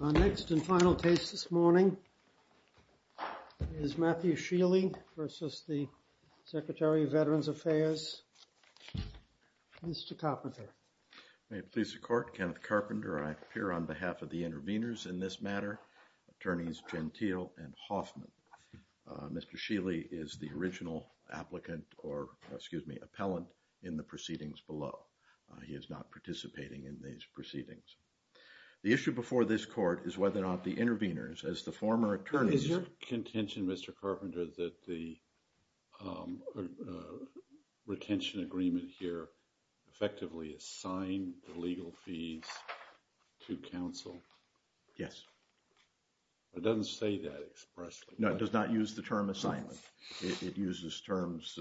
Our next and final case this morning is Matthew Shealey versus the Secretary of Veterans Affairs, Mr. Carpenter. May it please the court, Kenneth Carpenter. I appear on behalf of the interveners in this matter, attorneys Gentile and Hoffman. Mr. Shealey is the original applicant or excuse me, appellant in the proceedings. The issue before this court is whether or not the interveners as the former attorneys. Is your contention, Mr. Carpenter, that the retention agreement here effectively assigned the legal fees to counsel? Yes. It doesn't say that expressly. No, it does not use the term assignment. It uses terms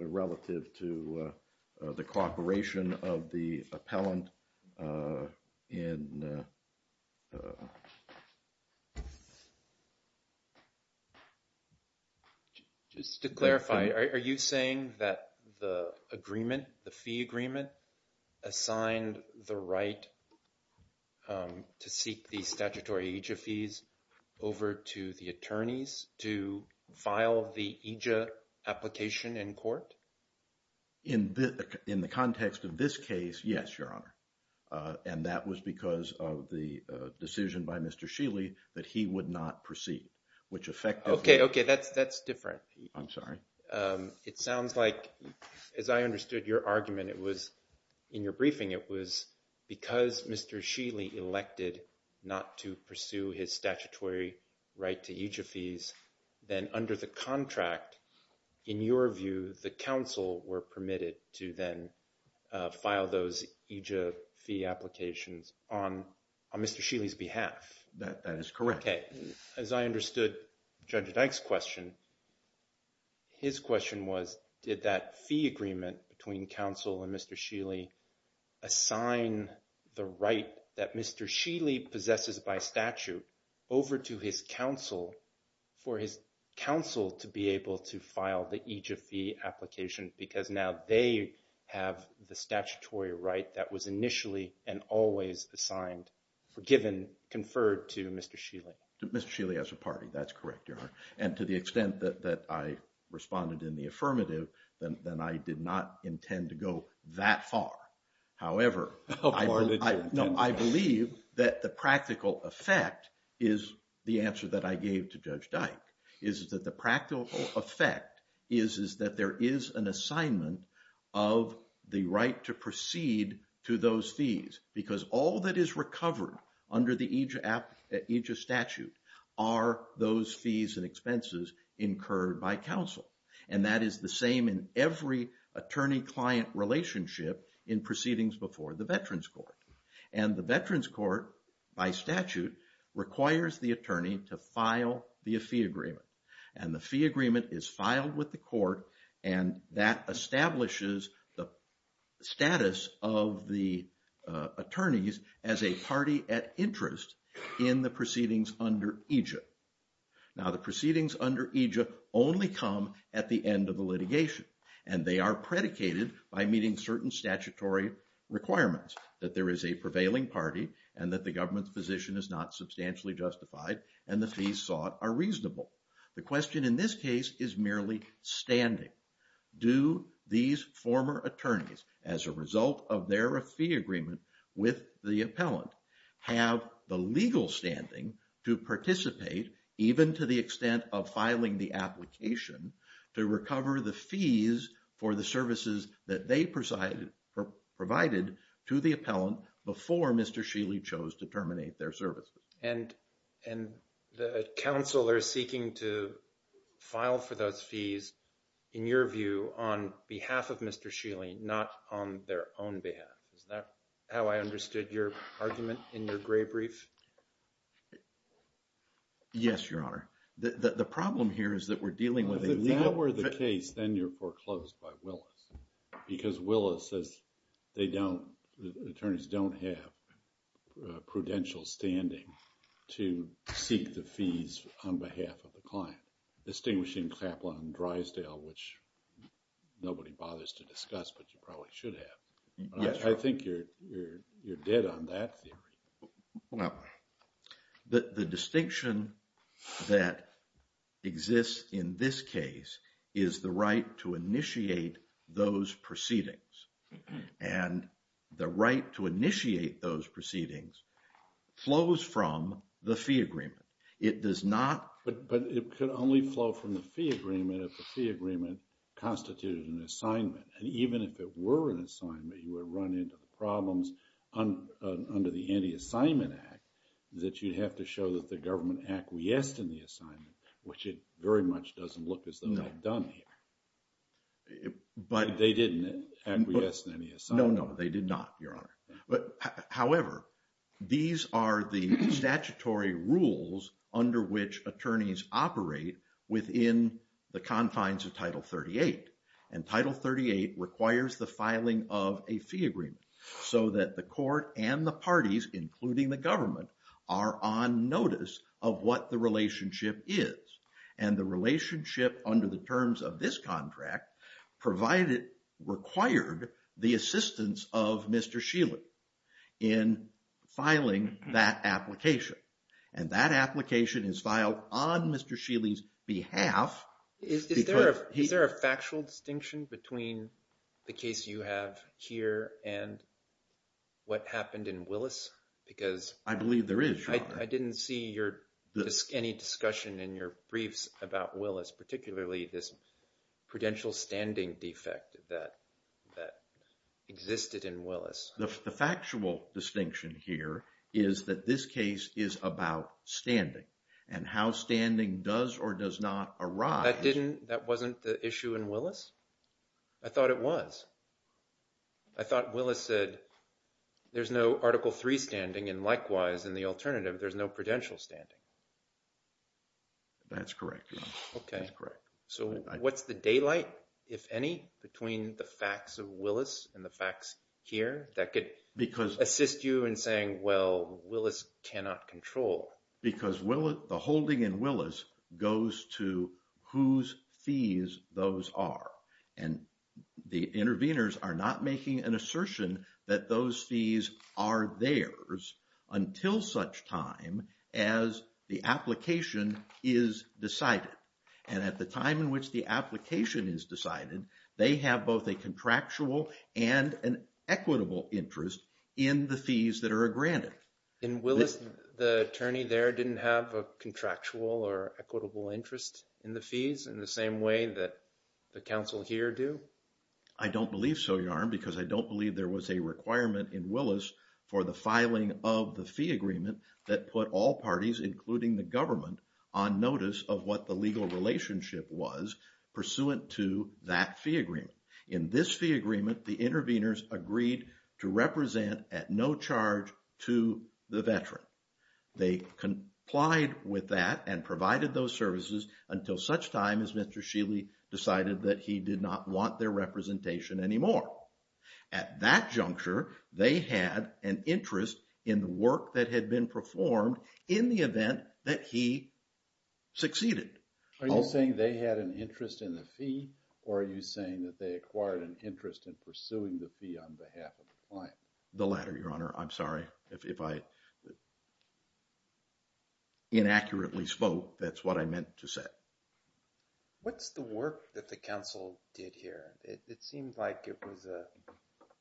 relative to the cooperation of the appellant. Just to clarify, are you saying that the agreement, the fee agreement, assigned the right to seek the statutory EJA fees over to the attorneys to file the EJA application in court? In the context of this case, yes, Your Honor, and that was because of the decision by Mr. Shealey that he would not proceed, which effectively... Okay, okay, that's different. I'm sorry. It sounds like, as I understood your argument, it was in your briefing, it was because Mr. Shealey elected not to pursue his statutory right to EJA fees, then under the contract, in your view, the counsel were permitted to then file those EJA fee applications on Mr. Shealey's behalf? That is correct. Okay, as I understood Judge Dyke's question, his question was, did that fee agreement between counsel and Mr. Shealey assign the right that Mr. Shealey possesses by statute over to his counsel for his counsel to be able to file the EJA fee application because now they have the statutory right that was initially and always assigned, given, conferred to Mr. Shealey? To Mr. Shealey as a party, that's correct, Your Honor, and to the extent that I responded in the affirmative, then I did not intend to go that far. However, I believe that the practical effect is the answer that I gave to Judge Dyke, is that the practical effect is that there is an assignment of the right to proceed to those fees because all that is recovered under the EJA statute are those fees and expenses incurred by every attorney-client relationship in proceedings before the Veterans Court. And the Veterans Court, by statute, requires the attorney to file the fee agreement and the fee agreement is filed with the court and that establishes the status of the attorneys as a party at interest in the proceedings under EJA. Now, the proceedings under EJA only come at the end of the litigation and they are predicated by meeting certain statutory requirements that there is a prevailing party and that the government's position is not substantially justified and the fees sought are reasonable. The question in this case is merely standing. Do these former attorneys, as a result of their fee agreement with the appellant, have the legal standing to participate, even to the extent of filing the application, to recover the fees for the services that they provided to the appellant before Mr. Sheely chose to terminate their services? And the counselor is seeking to file for those fees. Is that how I understood your argument in your grave brief? Yes, Your Honor. The problem here is that we're dealing with a legal... If that were the case, then you're foreclosed by Willis. Because Willis says they don't, the attorneys don't have prudential standing to seek the fees on behalf of the client. Distinguishing Kaplan and Drysdale, which nobody bothers to discuss but you probably should have. I think you're dead on that theory. The distinction that exists in this case is the right to initiate those proceedings. And the right to initiate those proceedings flows from the fee agreement. It does not... But it could only flow from the fee agreement if the were an assignment, you would run into problems under the Anti-Assignment Act that you'd have to show that the government acquiesced in the assignment, which it very much doesn't look as though they've done here. But they didn't acquiesce in any assignment. No, no, they did not, Your Honor. However, these are the statutory rules under which attorneys operate within the confines of Title 38. And Title 38 requires the filing of a fee agreement so that the court and the parties, including the government, are on notice of what the relationship is. And the relationship under the terms of this contract provided, required the assistance of Mr. Shealy in filing that application. And that application is Is there a factual distinction between the case you have here and what happened in Willis? Because... I believe there is, Your Honor. I didn't see any discussion in your briefs about Willis, particularly this prudential standing defect that existed in Willis. The factual distinction here is that this case is about standing. And how standing does or does not arise... That wasn't the issue in Willis? I thought it was. I thought Willis said there's no Article 3 standing and likewise in the alternative there's no prudential standing. That's correct, Your Honor. Okay. So what's the daylight, if any, between the facts of Willis and the facts here that could assist you in saying, well, Willis cannot control? Because the holding in Willis goes to whose fees those are. And the interveners are not making an assertion that those fees are theirs until such time as the application is decided. And at the time in which the application is decided, they have both a contractual and an equitable interest in the fees that are granted. In Willis, the attorney there didn't have a contractual or equitable interest in the fees in the same way that the counsel here do? I don't believe so, Your Honor, because I don't believe there was a requirement in Willis for the filing of the fee agreement that put all parties, including the government, on notice of what the legal relationship was pursuant to that fee agreement. In this fee agreement, the interveners agreed to represent at no charge to the veteran. They complied with that and provided those services until such time as Mr. Sheely decided that he did not want their representation anymore. At that juncture, they had an interest in the work that had been performed in the event that he succeeded. Are you saying they had an interest in the fee or are you saying that they acquired an interest in pursuing the fee on behalf of the client? The latter, Your Honor. I'm sorry if I inaccurately spoke. That's what I meant to say. What's the work that the counsel did here? It seemed like it was a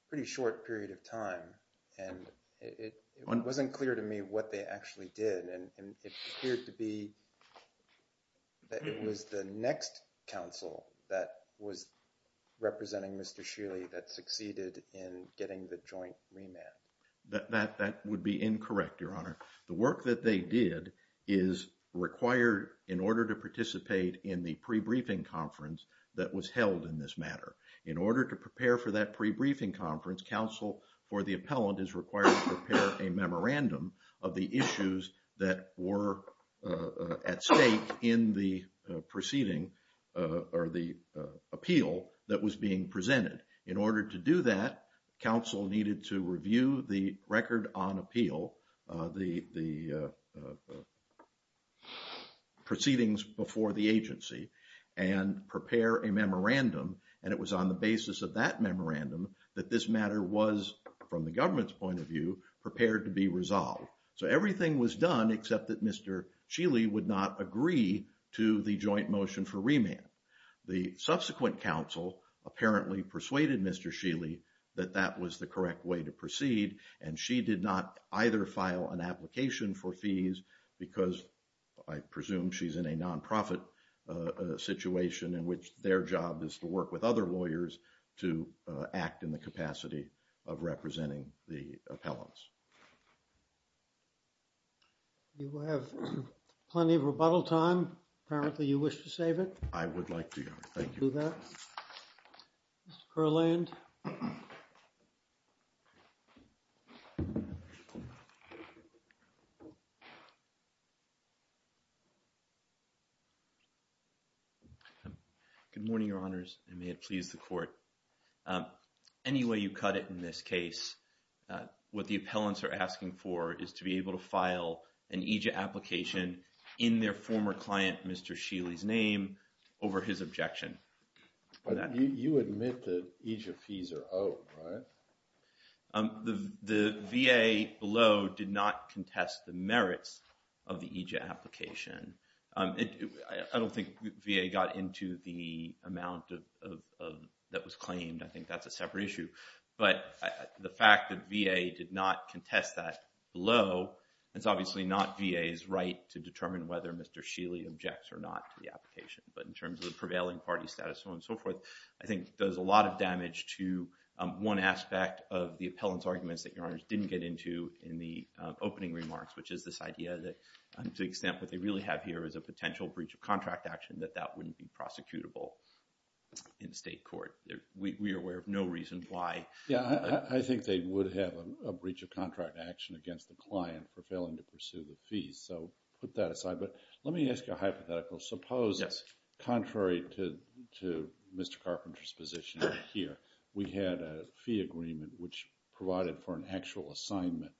pretty short period of time and it next counsel that was representing Mr. Sheely that succeeded in getting the joint remand. That would be incorrect, Your Honor. The work that they did is required in order to participate in the pre-briefing conference that was held in this matter. In order to prepare for that pre-briefing conference, counsel for the appellant is required to prepare a memorandum of the issues that were at stake in the proceeding or the appeal that was being presented. In order to do that, counsel needed to review the record on appeal, the proceedings before the agency, and prepare a memorandum. It was on the basis of that memorandum that this matter was, from the government's point of view, prepared to be resolved. So everything was done except that Mr. Sheely would not agree to the joint motion for remand. The subsequent counsel apparently persuaded Mr. Sheely that that was the correct way to proceed and she did not either file an application for fees because I presume she's in a nonprofit situation in which their job is to work with other lawyers to act in the capacity of representing the You have plenty of rebuttal time. Apparently you wish to save it. I would like to. Thank you. Mr. Kurland. Good morning, your honors, and may it please the court. Any way you cut it in this case, what the appellants are asking for is to be able to file an EJA application in their former client, Mr. Sheely's name, over his objection. You admit that EJA fees are out, right? The VA below did not contest the merits of the EJA application. I don't think VA got into the amount that was claimed. I the fact that VA did not contest that below, it's obviously not VA's right to determine whether Mr. Sheely objects or not to the application. But in terms of the prevailing party status, so on and so forth, I think there's a lot of damage to one aspect of the appellant's arguments that your honors didn't get into in the opening remarks, which is this idea that to the extent what they really have here is a potential breach of contract action that that wouldn't be prosecutable in state court. We are aware of no reason why. Yeah, I think they would have a breach of contract action against the client for failing to pursue the fees, so put that aside. But let me ask you a hypothetical. Suppose, contrary to Mr. Carpenter's position here, we had a fee agreement which provided for an actual assignment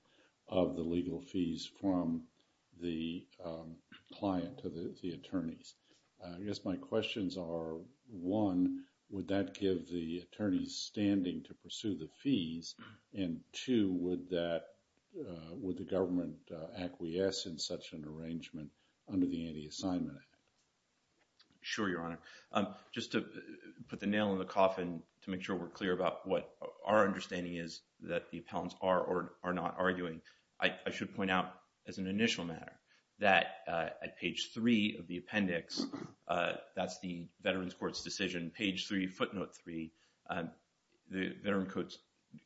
of the legal fees from the client to the attorneys. I guess my questions are, one, would that give the attorneys standing to pursue the fees? And two, would that, would the government acquiesce in such an arrangement under the Anti-Assignment Act? Sure, your honor. Just to put the nail in the coffin to make sure we're clear about what our understanding is that the appellants are or are not arguing, I should point out as an initial matter that at page 3 of the Veterans Court's decision, page 3, footnote 3, the Veterans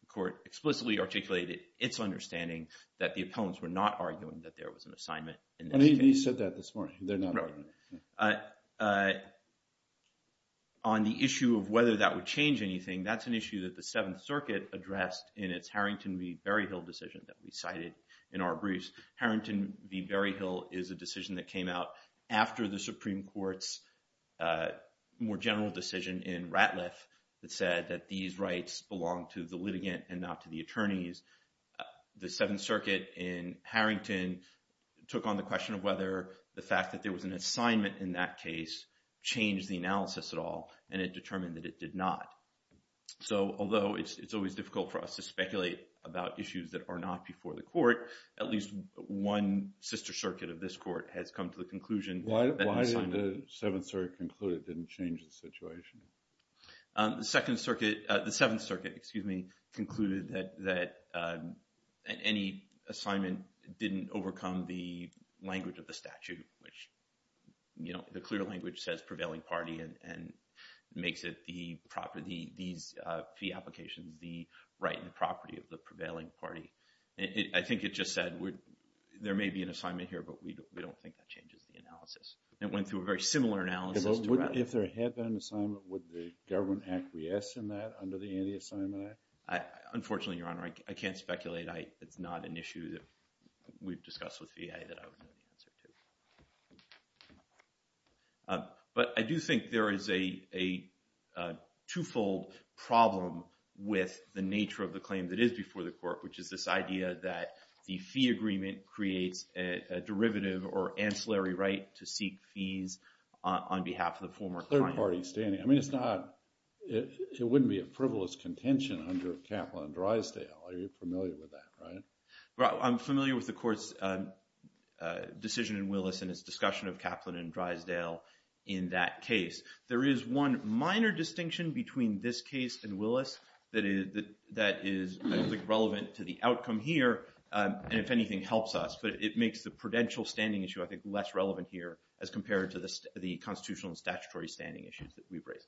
Court explicitly articulated its understanding that the appellants were not arguing that there was an assignment. And he said that this morning, they're not arguing. On the issue of whether that would change anything, that's an issue that the Seventh Circuit addressed in its Harrington v. Berryhill decision that we cited in our briefs. Harrington v. Berryhill is a decision that came out after the Supreme Court's more general decision in Ratliff that said that these rights belong to the litigant and not to the attorneys. The Seventh Circuit in Harrington took on the question of whether the fact that there was an assignment in that case changed the analysis at all, and it determined that it did not. So although it's always difficult for us to speculate about issues that are not before the court, at least one sister circuit of this court has come to the conclusion that it didn't change the situation. The Second Circuit, the Seventh Circuit, excuse me, concluded that any assignment didn't overcome the language of the statute, which, you know, the clear language says prevailing party and makes it the property, these fee applications, the right and property of the prevailing party. I think it just said there may be an assignment here, but we don't think that changes the analysis. It went through a very similar analysis. If there had been an assignment, would the government acquiesce in that under the Anti-Assignment Act? Unfortunately, Your Honor, I can't speculate. It's not an issue that we've discussed with VA that I would know the answer to. But I do think there is a twofold problem with the nature of the claim that is before the court, which is this idea that the fee agreement creates a derivative or ancillary right to seek fees on behalf of the former client. Third party standing. I mean, it's not, it wouldn't be a frivolous contention under Kaplan and Drysdale. You're familiar with that, right? I'm familiar with the court's decision in Willis and its discussion of Kaplan and Drysdale in that case. There is one minor distinction between this case and Willis that is relevant to the outcome here and, if anything, helps us. But it makes the prudential standing issue, I think, less relevant here as compared to the constitutional and statutory standing issues that we've raised.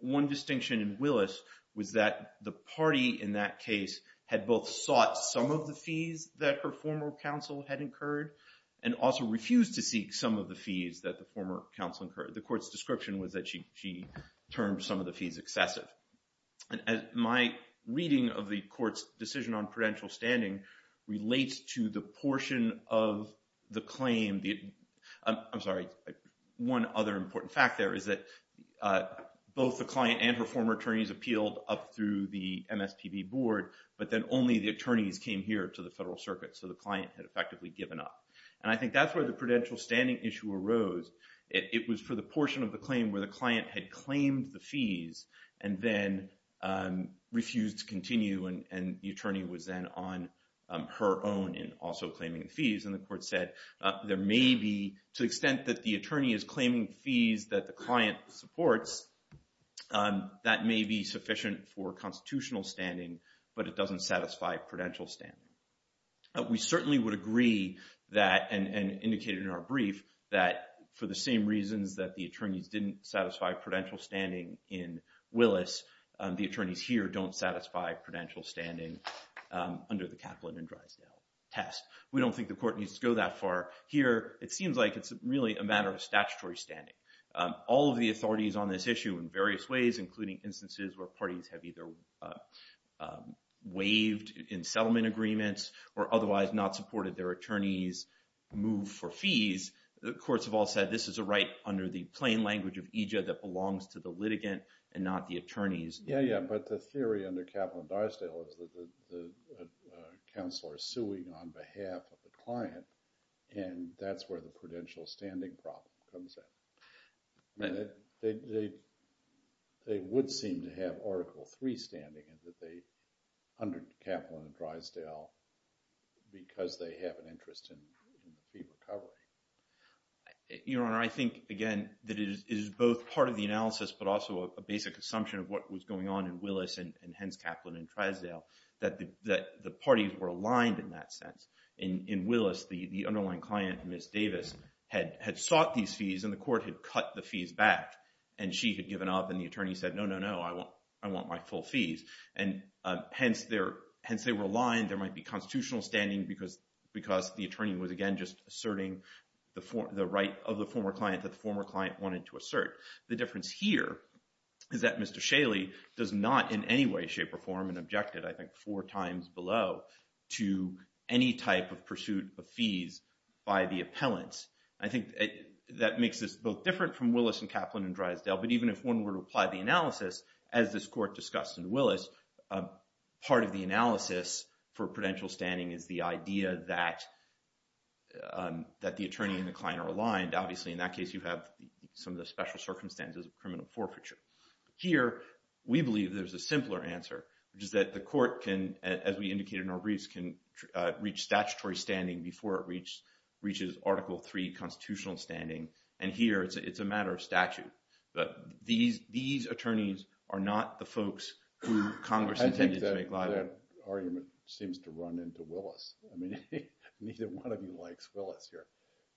One distinction in Willis was that the party in that case had both sought some of the fees that her former counsel had incurred and also refused to seek some of the fees that the former counsel incurred. The court's description was that she termed some of the fees excessive. My reading of the court's decision on prudential standing relates to the portion of the claim, I'm sorry, one other important fact there is that both the client and her former attorneys appealed up through the MSPB board but then only the attorneys came here to the Federal Circuit. So the client had effectively given up. And I think that's where the prudential standing issue arose. It was for the portion of the claim where the client had claimed the fees and then refused to continue and the attorney was then on her own in also claiming the fees. And the court said there may be, to the extent that the attorney is claiming fees that the client supports, that may be sufficient for constitutional standing but it doesn't satisfy prudential standing. We certainly would agree that, and indicated in our brief, that for the same reasons that the attorneys didn't satisfy prudential standing in Willis, the attorneys here don't satisfy prudential standing under the Kaplan and Drysdale test. We don't think the court needs to go that far here. It seems like it's really a matter of statutory standing. All of the authorities on this issue in various ways including instances where parties have either waived in settlement agreements or otherwise not supported their attorneys move for fees, the courts have all said this is a right under the plain language of EJA that belongs to the litigant and not the attorneys. Yeah, yeah, but the theory under Kaplan and Dysdale is that the counselor is suing on behalf of the client and that's where the prudential standing problem comes in. They would seem to have Article III standing and that they under Kaplan and Drysdale because they have an interest in fee recovery. Your Honor, I think again that it is both part of the analysis but also a basic assumption of what was going on in Willis and hence Kaplan and Drysdale that the parties were aligned in that sense. In Willis, the had sought these fees and the court had cut the fees back and she had given up and the attorney said no, no, no, I want my full fees and hence they were aligned. There might be constitutional standing because the attorney was again just asserting the right of the former client that the former client wanted to assert. The difference here is that Mr. Shaley does not in any way, shape, or form and objected I think four times below to any type of pursuit of fees by the that makes this both different from Willis and Kaplan and Drysdale but even if one were to apply the analysis as this court discussed in Willis, part of the analysis for prudential standing is the idea that the attorney and the client are aligned. Obviously in that case you have some of the special circumstances of criminal forfeiture. Here we believe there's a simpler answer which is that the court can as we indicated in our briefs can reach statutory standing before reaches article 3 constitutional standing and here it's a matter of statute but these attorneys are not the folks who Congress intended to make liable. That argument seems to run into Willis. I mean neither one of you likes Willis here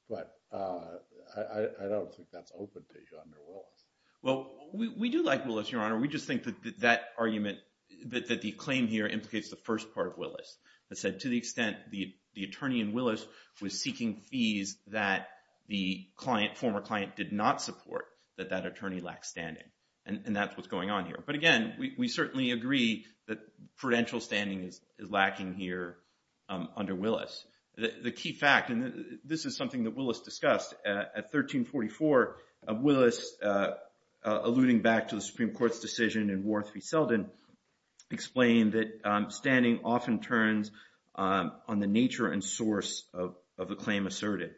but I don't think that's open to you under Willis. Well we do like Willis, your honor. We just think that that argument that the claim here implicates the first part of Willis that said to the extent the attorney in Willis was seeking fees that the client former client did not support that that attorney lacked standing and that's what's going on here but again we certainly agree that prudential standing is lacking here under Willis. The key fact and this is something that Willis discussed at 1344 of Willis alluding back to the Supreme Court's decision in War Three Selden explained that standing often turns on the nature and source of a claim asserted.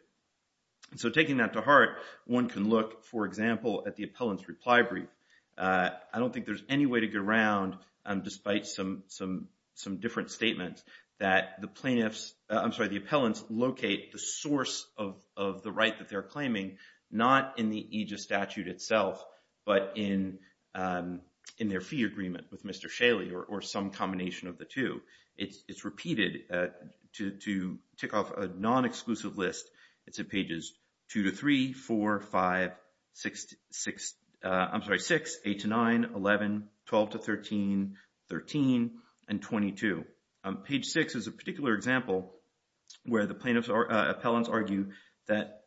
So taking that to heart one can look for example at the appellant's reply brief. I don't think there's any way to get around despite some different statements that the plaintiffs I'm sorry the appellants locate the source of the right that they're claiming not in the aegis statute itself but in their fee agreement with Mr. Shaley or some combination of the two. It's repeated to tick off a non-exclusive list it's at pages 2 to 3, 4, 5, 6, I'm sorry 6, 8 to 9, 11, 12 to 13, 13, and 22. Page 6 is a particular example where the plaintiffs appellants argue that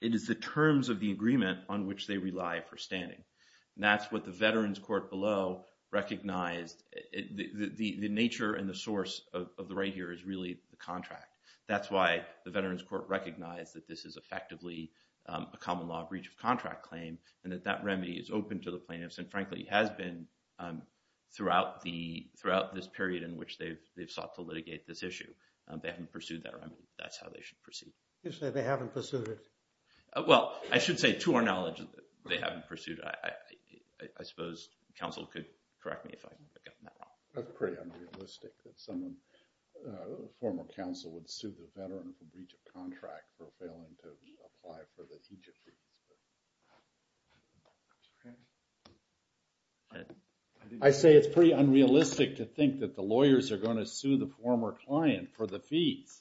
it is the terms of the agreement on which they rely for standing and that's what the veterans court below recognized the nature and the source of the right here is really the contract. That's why the veterans court recognized that this is effectively a common law breach of contract claim and that that remedy is open to the plaintiffs and frankly has been throughout this period in which they've sought to litigate this issue. They haven't pursued that remedy. That's how they should proceed. You say they haven't pursued it. Well I should say to our knowledge that they haven't pursued it. I suppose counsel could correct me if I got that wrong. That's pretty unrealistic that someone former counsel would sue the veteran for breach of contract for failing to apply for the aegis. I say it's pretty unrealistic to think that lawyers are going to sue the former client for the fees.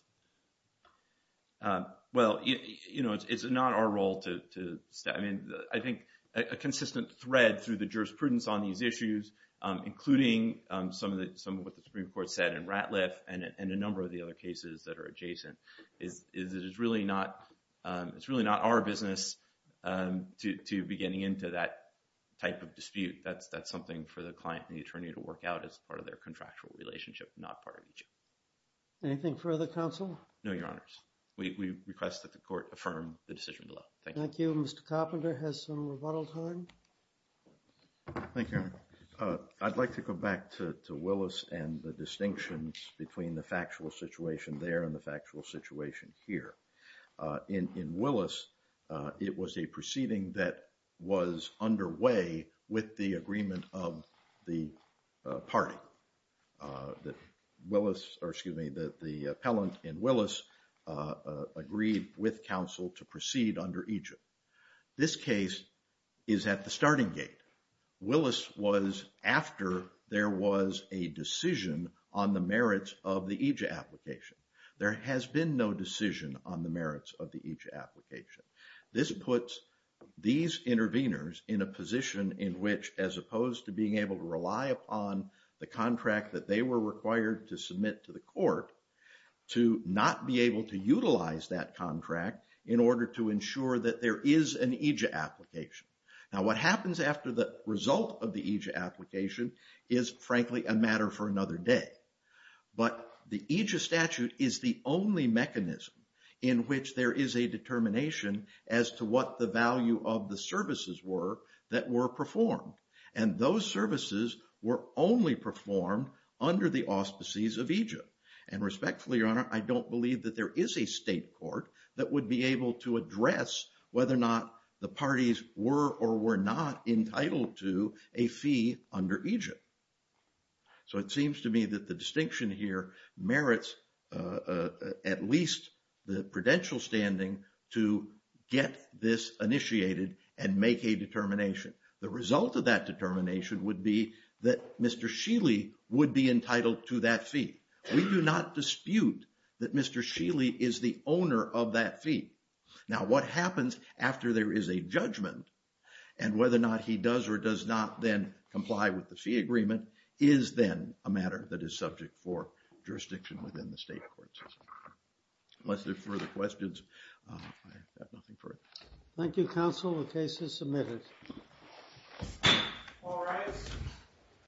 Well you know it's not our role to step in. I think a consistent thread through the jurisprudence on these issues including some of the some of what the Supreme Court said in Ratliff and a number of the other cases that are adjacent is it is really not it's really not our business to be getting into that type of dispute. That's something for the client and the attorney to work out as part of their contractual relationship not part of each. Anything further counsel? No your honors. We request that the court affirm the decision below. Thank you. Mr. Coplander has some rebuttal time. Thank you. I'd like to go back to Willis and the distinctions between the factual situation there and the factual situation here. In Willis it was a proceeding that was underway with the agreement of the party that Willis or excuse me that the appellant in Willis agreed with counsel to proceed under aegis. This case is at the starting gate. Willis was after there was a decision on the merits of the aegis application. There has been no decision on the merits of the aegis application. This puts these intervenors in a position in which as opposed to being able to rely upon the contract that they were required to submit to the court to not be able to utilize that contract in order to ensure that there is an aegis application. Now what happens after the result of the aegis application is frankly a matter for another day. But the aegis statute is the mechanism in which there is a determination as to what the value of the services were that were performed. And those services were only performed under the auspices of aegis. And respectfully your honor I don't believe that there is a state court that would be able to address whether or not the parties were or were not entitled to a fee under aegis. So it seems to me that the distinction here merits at least the prudential standing to get this initiated and make a determination. The result of that determination would be that Mr. Scheele would be entitled to that fee. We do not dispute that Mr. Scheele is the owner of that fee. Now what happens after there is a judgment and whether or not he does or does not then a matter that is subject for jurisdiction within the state courts. Unless there are further questions I have nothing for it. Thank you counsel the case is submitted.